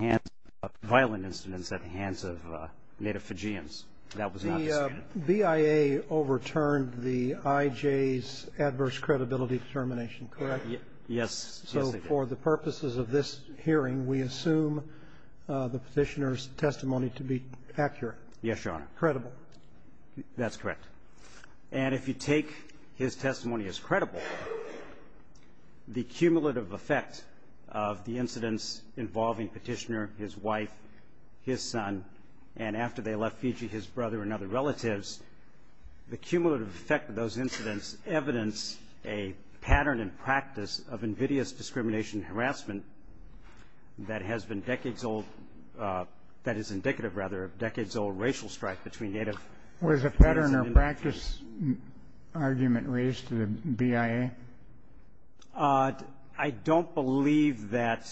and violent incidents at the hands of Native Fijians. That was the BIA overturned the IJ's adverse credibility determination, correct? Yes. So for the purposes of this hearing, we assume the petitioner's testimony to be accurate. Yes, Your Honor. Credible. That's correct. And if you take his testimony as credible, the cumulative effect of the incidents involving petitioner, his wife, his son, and after they left Fiji, his brother and other relatives, the cumulative effect of those incidents evidence a pattern and practice of invidious discrimination harassment that has been decades old. That is indicative, rather, of decades old racial strife between Native. Was a pattern or practice argument raised to the BIA? I don't believe that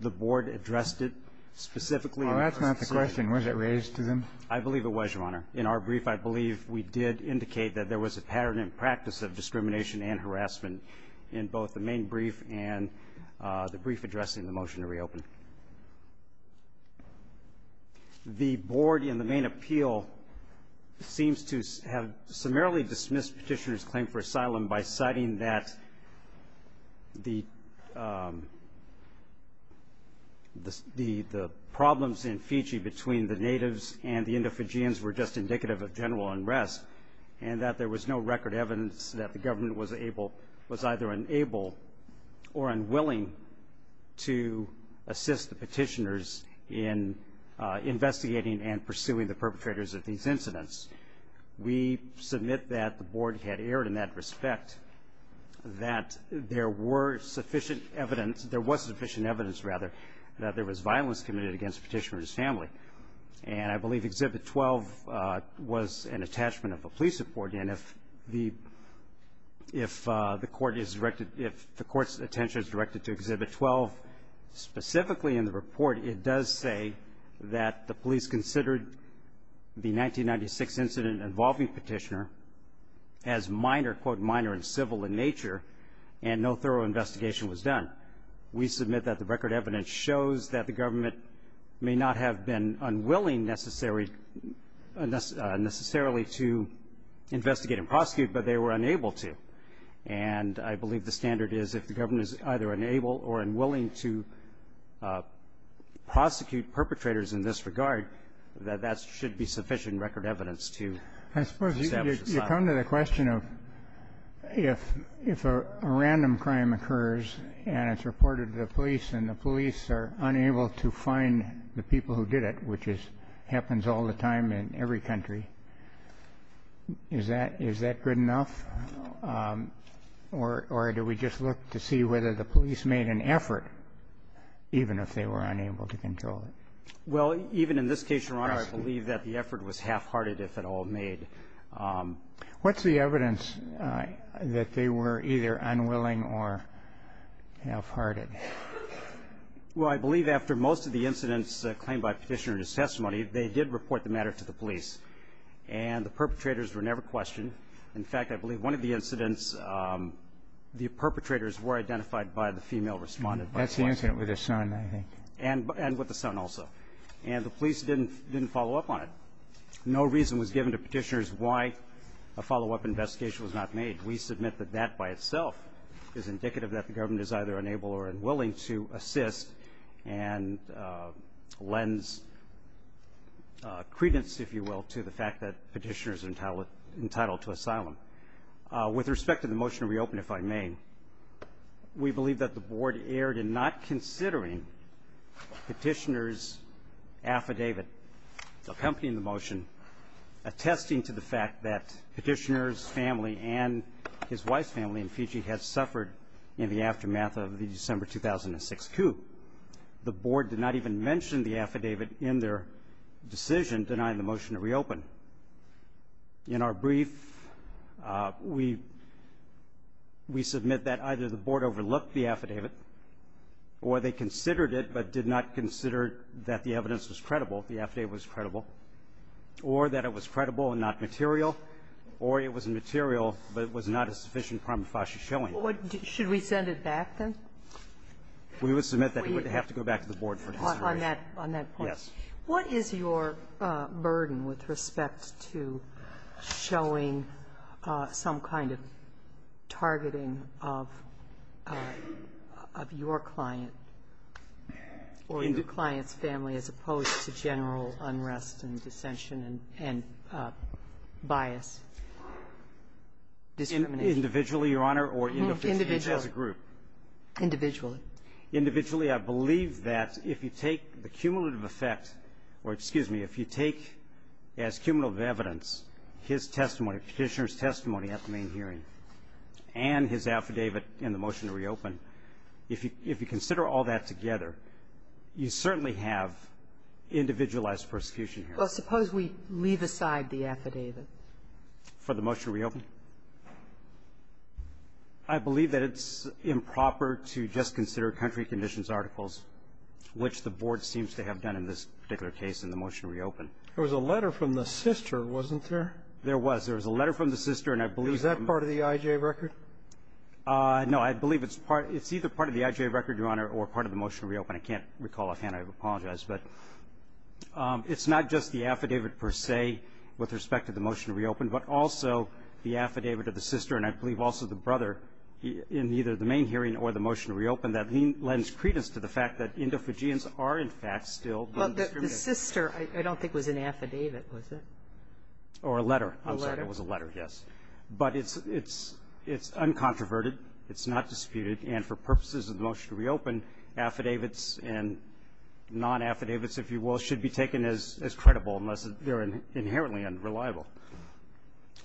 the board addressed it specifically. Well, that's not the question. Was it raised to them? I believe it was, Your Honor. In our brief, I believe we did indicate that there was a pattern and practice of discrimination and harassment in both the main brief and the brief addressing the motion to reopen. The board in the main appeal seems to have summarily dismissed petitioner's claim for asylum by citing that the problems in Fiji between the Natives and the Indo-Fijians were just indicative of general unrest and that there was no record evidence that the government was either unable or unwilling to assist the petitioners in investigating and pursuing the perpetrators of these incidents. We submit that the board had erred in that respect, that there were sufficient evidence, there was sufficient evidence, rather, that there was violence committed against the petitioner's family. And I believe Exhibit 12 was an attachment of the police report. And if the court's attention is directed to Exhibit 12 specifically in the report, it does say that the police considered the 1996 incident involving petitioner as minor, quote, minor and civil in nature, and no thorough investigation was done. We submit that the record evidence shows that the government may not have been unwilling necessarily to investigate and prosecute, but they were unable to. And I believe the standard is if the government is either unable or unwilling to prosecute perpetrators in this regard, that that should be sufficient record evidence to establish asylum. Kennedy. I suppose you come to the question of if a random crime occurs and it's reported to the police and the police are unable to find the people who did it, which happens all the time in every country, is that good enough? Or do we just look to see whether the police made an effort, even if they were unable to control it? Well, even in this case, Your Honor, I believe that the effort was half-hearted if at all made. What's the evidence that they were either unwilling or half-hearted? Well, I believe after most of the incidents claimed by Petitioner in his testimony, they did report the matter to the police. And the perpetrators were never questioned. In fact, I believe one of the incidents, the perpetrators were identified by the female respondent. That's the incident with her son, I think. And with the son also. And the police didn't follow up on it. No reason was given to Petitioner why a follow-up investigation was not made. We submit that that by itself is indicative that the government is either unable or unwilling to assist and lends credence, if you will, to the fact that Petitioner is entitled to asylum. With respect to the motion to reopen, if I may, we believe that the Board erred in not considering Petitioner's affidavit accompanying the motion, attesting to the fact that Petitioner's family and his wife's family in Fiji had suffered in the aftermath of the December 2006 coup. The Board did not even mention the affidavit in their decision denying the motion to reopen. In our brief, we submit that either the Board overlooked the affidavit or they considered it but did not consider that the evidence was credible, the affidavit was credible, or that it was credible and not material, or it was material but it was not a sufficient prima facie showing. Should we send it back, then? We would submit that it would have to go back to the Board for consideration. On that point. Yes. What is your burden with respect to showing some kind of targeting of your client or your client's family as opposed to general unrest and dissension and bias, discrimination? Individually, Your Honor, or individually as a group? Individually. Individually. I believe that if you take the cumulative effect or, excuse me, if you take as cumulative evidence his testimony, Petitioner's testimony at the main hearing, and his affidavit in the motion to reopen, if you consider all that together, you certainly have individualized persecution here. Well, suppose we leave aside the affidavit. For the motion to reopen? I believe that it's improper to just consider country conditions articles, which the Board seems to have done in this particular case in the motion to reopen. There was a letter from the sister, wasn't there? There was. There was a letter from the sister, and I believe the motion to reopen. Is that part of the IJ record? No. I believe it's either part of the IJ record, Your Honor, or part of the motion to reopen. I can't recall offhand. I apologize. But it's not just the affidavit per se with respect to the motion to reopen, but also the affidavit of the sister, and I believe also the brother, in either the main hearing or the motion to reopen, that he lends credence to the fact that Indo-Fujians are, in fact, still being discriminated against. Well, the sister I don't think was an affidavit, was it? Or a letter. A letter? I'm sorry. It was a letter, yes. But it's uncontroverted. It's not disputed. And for purposes of the motion to reopen, affidavits and non-affidavits, if you will, should be taken as credible unless they're inherently unreliable.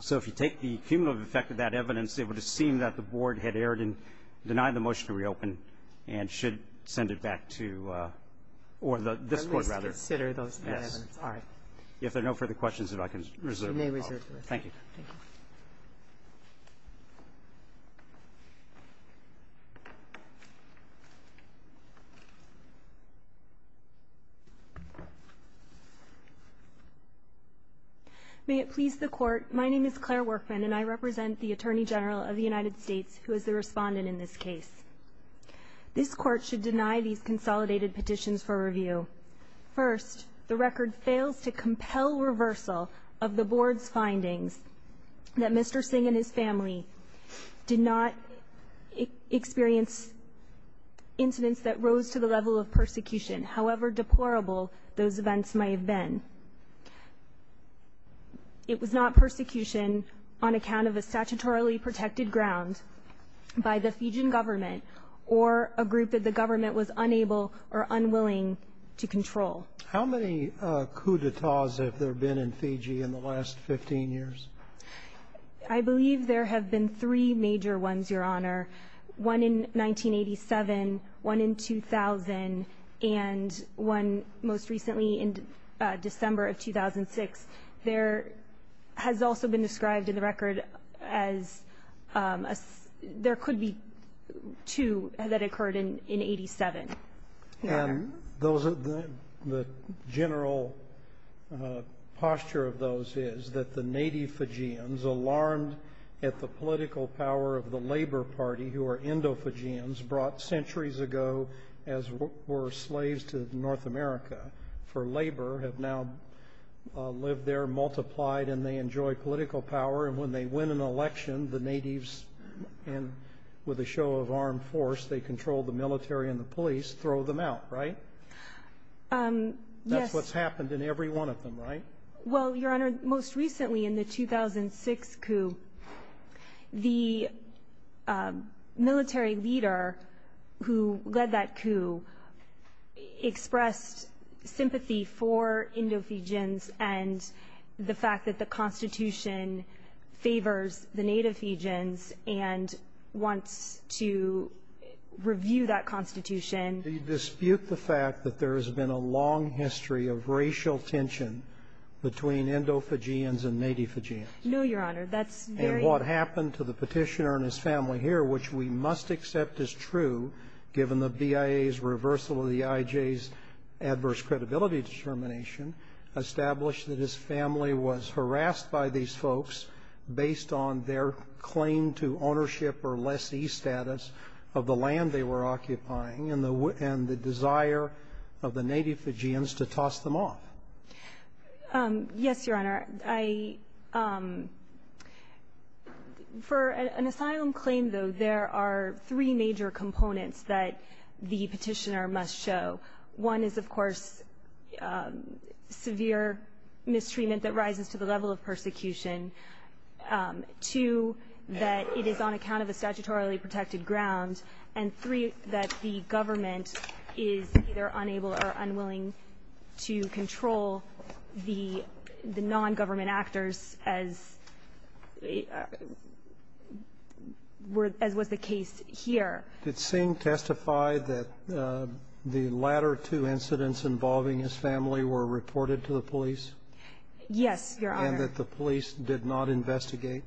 So if you take the cumulative effect of that evidence, it would have seen that the Board had erred in denying the motion to reopen and should send it back to or this Court, rather. At least consider that evidence. All right. If there are no further questions, if I can reserve the call. You may reserve the call. Thank you. Thank you. May it please the Court. My name is Claire Workman and I represent the Attorney General of the United States who is the respondent in this case. This Court should deny these consolidated petitions for review. First, the record fails to compel reversal of the Board's findings that Mr. Singh and his family did not experience incidents that rose to the level of persecution, however deplorable those events may have been. It was not persecution on account of a statutorily protected ground by the Fijian government or a group that the government was unable or unwilling to control. How many coup d'etats have there been in Fiji in the last 15 years? I believe there have been three major ones, Your Honor. One in 1987, one in 2000, and one most recently in December of 2006. There has also been described in the record as there could be two that occurred in 87. And the general posture of those is that the native Fijians, alarmed at the political power of the Labor Party who are Indo-Fijians, brought centuries ago as were slaves to North America for labor, have now lived there, multiplied, and they enjoy political power. And when they win an election, the natives, with a show of armed force, they control the military and the police, throw them out, right? That's what's happened in every one of them, right? Well, Your Honor, most recently in the 2006 coup, the military leader who led that coup expressed sympathy for Indo-Fijians and the fact that the Constitution favors the native Fijians and wants to review that Constitution. Do you dispute the fact that there has been a long history of racial tension between Indo-Fijians and native Fijians? No, Your Honor. And what happened to the petitioner and his family here, which we must accept is true given the BIA's reversal of the IJ's adverse credibility determination, established that his family was harassed by these folks based on their claim to ownership or lessee status of the land they were occupying and the desire of the native Fijians to toss them off. Yes, Your Honor. For an asylum claim, though, there are three major components that the petitioner must show. One is, of course, severe mistreatment that rises to the level of persecution. Two, that it is on account of a statutorily protected ground. And three, that the government is either unable or unwilling to control the non-government actors as was the case here. Did Singh testify that the latter two incidents involving his family were reported to the police? Yes, Your Honor. And that the police did not investigate?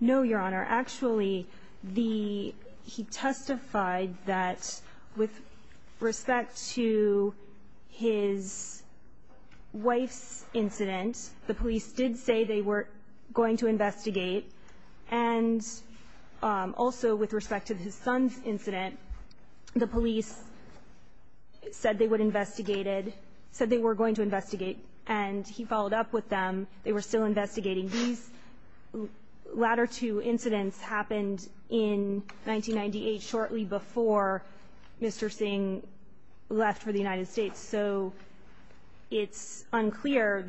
No, Your Honor. Actually, he testified that with respect to his wife's incident, the police did say they were going to investigate. And also with respect to his son's incident, the police said they would investigate it, said they were going to investigate, and he followed up with them. They were still investigating. These latter two incidents happened in 1998, shortly before Mr. Singh left for the United States. So it's unclear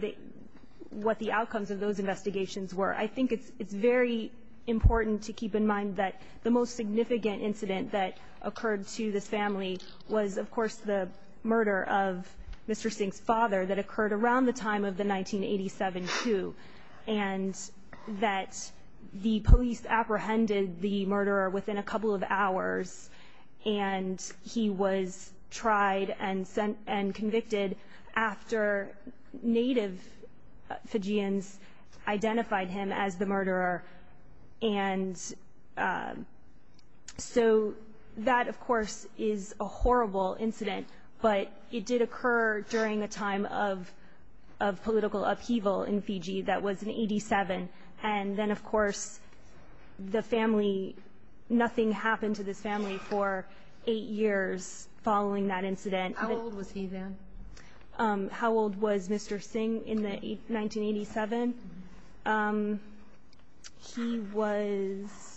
what the outcomes of those investigations were. I think it's very important to keep in mind that the most significant incident that occurred to this family was, of course, the murder of Mr. Singh's father that occurred around the time of the 1987 coup. And that the police apprehended the murderer within a couple of hours, and he was tried and convicted after native Fijians identified him as the murderer. And so that, of course, is a horrible incident, but it did occur during a time of political upheaval in Fiji. That was in 87. And then, of course, the family, nothing happened to this family for eight years following that incident. How old was he then? How old was Mr. Singh in 1987? He was...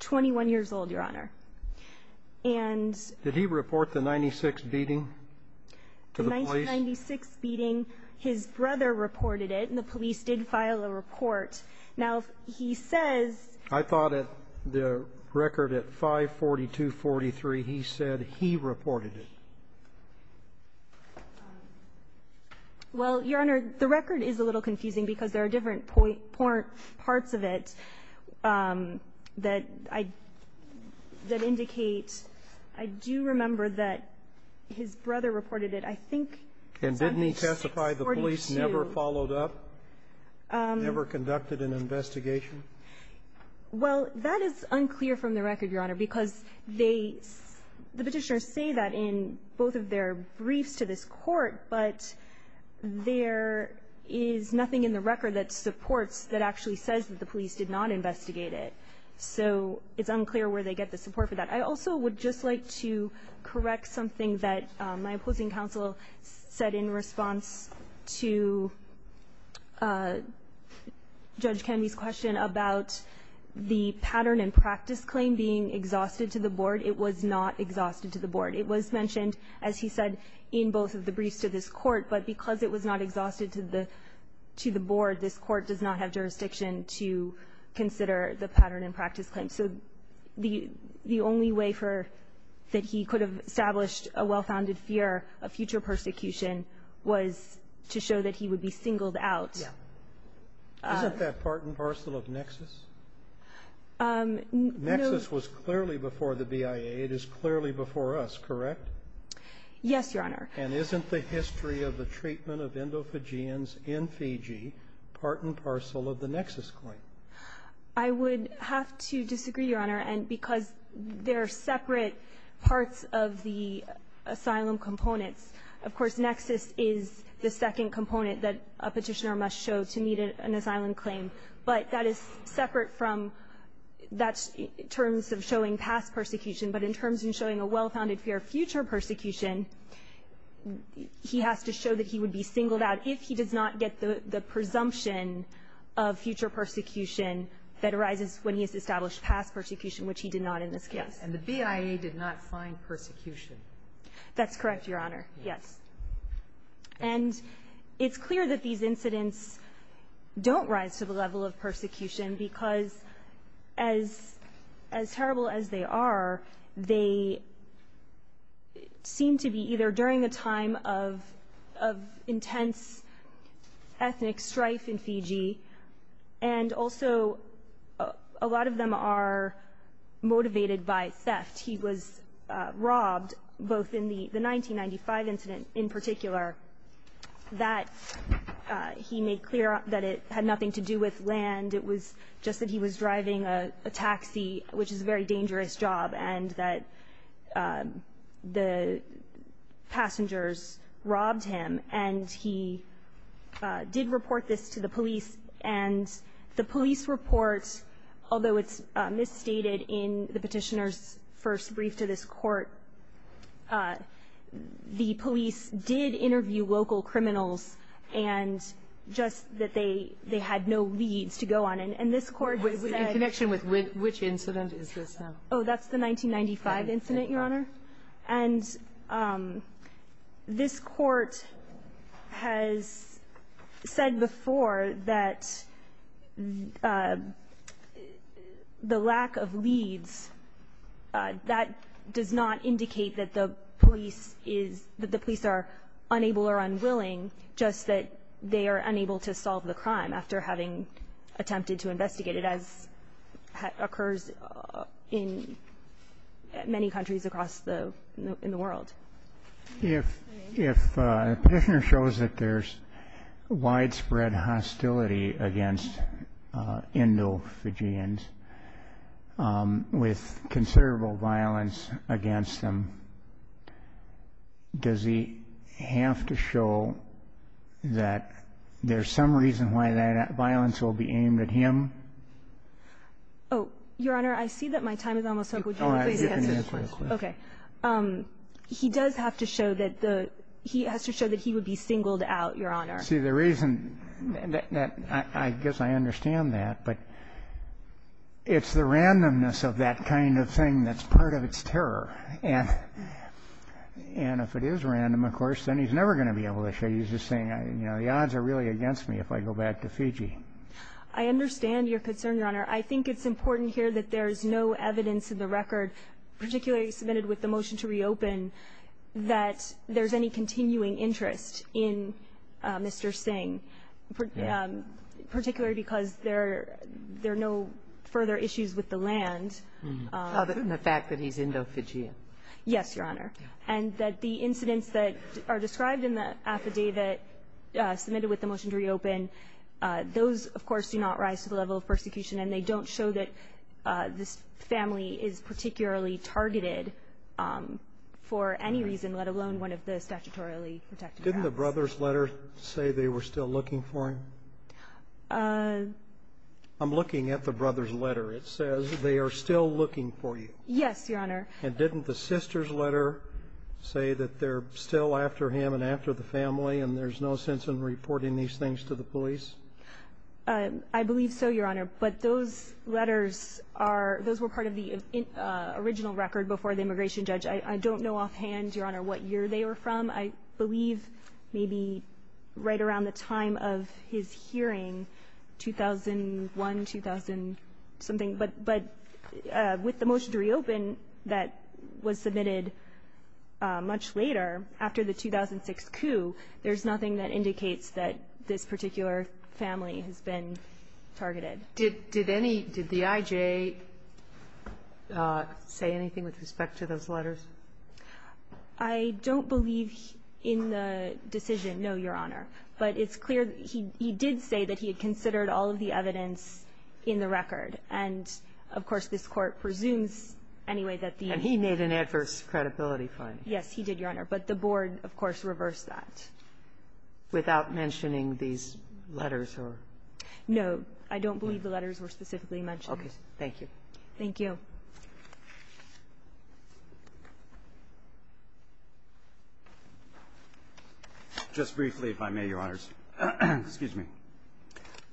21 years old, Your Honor. And... Did he report the 96 beating to the police? The 96 beating, his brother reported it, and the police did file a report. Now, he says... I thought that the record at 5-42-43, he said he reported it. Well, Your Honor, the record is a little confusing because there are different parts of it that indicate... I do remember that his brother reported it. And didn't he testify the police never followed up, never conducted an investigation? Well, that is unclear from the record, Your Honor, because the petitioners say that in both of their briefs to this court, but there is nothing in the record that supports, that actually says that the police did not investigate it. So it's unclear where they get the support for that. I also would just like to correct something that my opposing counsel said in response to Judge Kennedy's question about the pattern and practice claim being exhausted to the board. It was not exhausted to the board. It was mentioned, as he said, in both of the briefs to this court, but because it was not exhausted to the board, this court does not have jurisdiction to consider the pattern and practice claim. So the only way for... that he could have established a well-founded fear of future persecution was to show that he would be singled out. Yeah. Isn't that part and parcel of Nexus? Um, no... Nexus was clearly before the BIA. It is clearly before us, correct? Yes, Your Honor. And isn't the history of the treatment of endophagians in Fiji part and parcel of the Nexus claim? I would have to disagree, Your Honor, and because they're separate parts of the asylum components. Of course, Nexus is the second component that a petitioner must show to meet an asylum claim, but that is separate from... that's in terms of showing past persecution, but in terms of showing a well-founded fear of future persecution, he has to show that he would be singled out if he does not get the presumption of future persecution that arises when he has established past persecution, which he did not in this case. And the BIA did not find persecution. That's correct, Your Honor. Yes. And it's clear that these incidents don't rise to the level of persecution because as... as terrible as they are, they seem to be either during a time of... of intense ethnic strife in Fiji and also a lot of them are motivated by theft. He was robbed both in the 1995 incident in particular that he made clear that it had nothing to do with land. It was just that he was driving a taxi, which is a very dangerous job, and that the passengers robbed him. And he did report this to the police, and the police report, although it's misstated in the petitioner's first brief to this court, the police did interview local criminals and just that they had no leads to go on, and this court... In connection with which incident is this now? Oh, that's the 1995 incident, Your Honor. And this court has said before that the lack of leads, that does not indicate that the police is... that the police are unable or unwilling, just that they are unable to solve the crime after having attempted to investigate it as occurs in many countries across the... in the world. If the petitioner shows that there's widespread hostility against Indo-Fijians with considerable violence against them, does he have to show that there's some reason why that violence will be aimed at him? Oh, Your Honor, I see that my time is almost up. Would you please answer? Okay. He does have to show that the... He has to show that he would be singled out, Your Honor. See, the reason... I guess I understand that, but it's the randomness of that kind of thing that's part of its terror. And if it is random, of course, then he's never gonna be able to show you. He's just saying, you know, the odds are really against me if I go back to Fiji. I understand your concern, Your Honor. I think it's important here that there's no evidence in the record, particularly submitted with the motion to reopen, that there's any continuing interest in Mr. Singh, particularly because there... there are no further issues with the land. Other than the fact that he's Indo-Fijian. Yes, Your Honor. And that the incidents that are described in the affidavit submitted with the motion to reopen, those, of course, do not rise to the level of persecution, and they don't show that this family is particularly targeted for any reason, let alone one of the statutorily protected grounds. Didn't the brother's letter say they were still looking for him? Uh... I'm looking at the brother's letter. It says they are still looking for you. Yes, Your Honor. And didn't the sister's letter say that they're still after him and after the family and there's no sense in reporting these things to the police? I believe so, Your Honor. But those letters are... those were part of the original record before the immigration judge. I don't know offhand, Your Honor, what year they were from. I believe maybe right around the time of his hearing, 2001, 2000-something. But with the motion to reopen that was submitted much later, after the 2006 coup, there's nothing that indicates that this particular family has been targeted. Did the I.J. say anything with respect to those letters? I don't believe in the decision, no, Your Honor. But it's clear he did say that he had considered all of the evidence in the record. And, of course, this Court presumes anyway that the... And he made an adverse credibility finding. Yes, he did, Your Honor. But the board, of course, reversed that. Without mentioning these letters or...? No, I don't believe the letters were specifically mentioned. Okay, thank you. Thank you. Just briefly, if I may, Your Honors. Excuse me.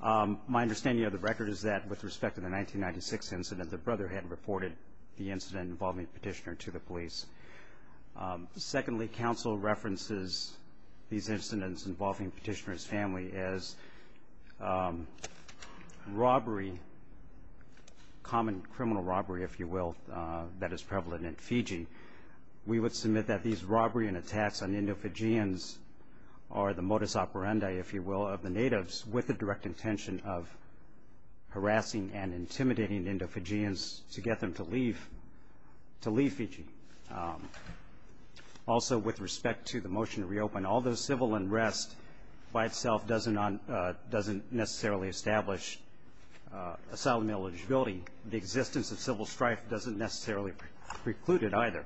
My understanding of the record is that with respect to the 1996 incident, the brother had reported the incident involving the petitioner to the police. Secondly, counsel references these incidents involving petitioner's family as robbery, common criminal robbery, if you will, that is prevalent in Fiji. We would submit that these robbery and attacks on Indo-Fijians are the modus operandi, if you will, of the natives, with the direct intention of harassing and intimidating Indo-Fijians to get them to leave, to leave Fiji. Also, with respect to the motion to reopen, although civil unrest by itself doesn't necessarily establish asylum eligibility, the existence of civil strife doesn't necessarily preclude it either.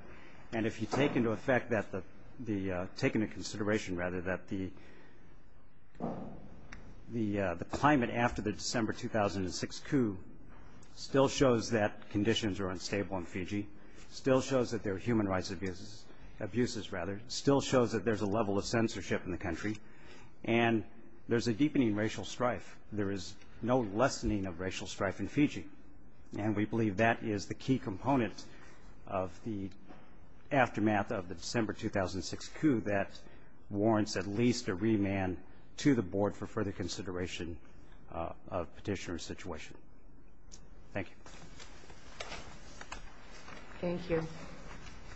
And if you take into effect that the... take into consideration, rather, that the climate after the December 2006 coup still shows that conditions are unstable in Fiji, still shows that there are human rights abuses, still shows that there's a level of censorship in the country, and there's a deepening racial strife. There is no lessening of racial strife in Fiji. And we believe that is the key component of the aftermath of the December 2006 coup that warrants at least a remand to the board for further consideration of petitioner's situation. Thank you. Thank you.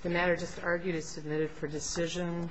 The matter just argued is submitted for decision.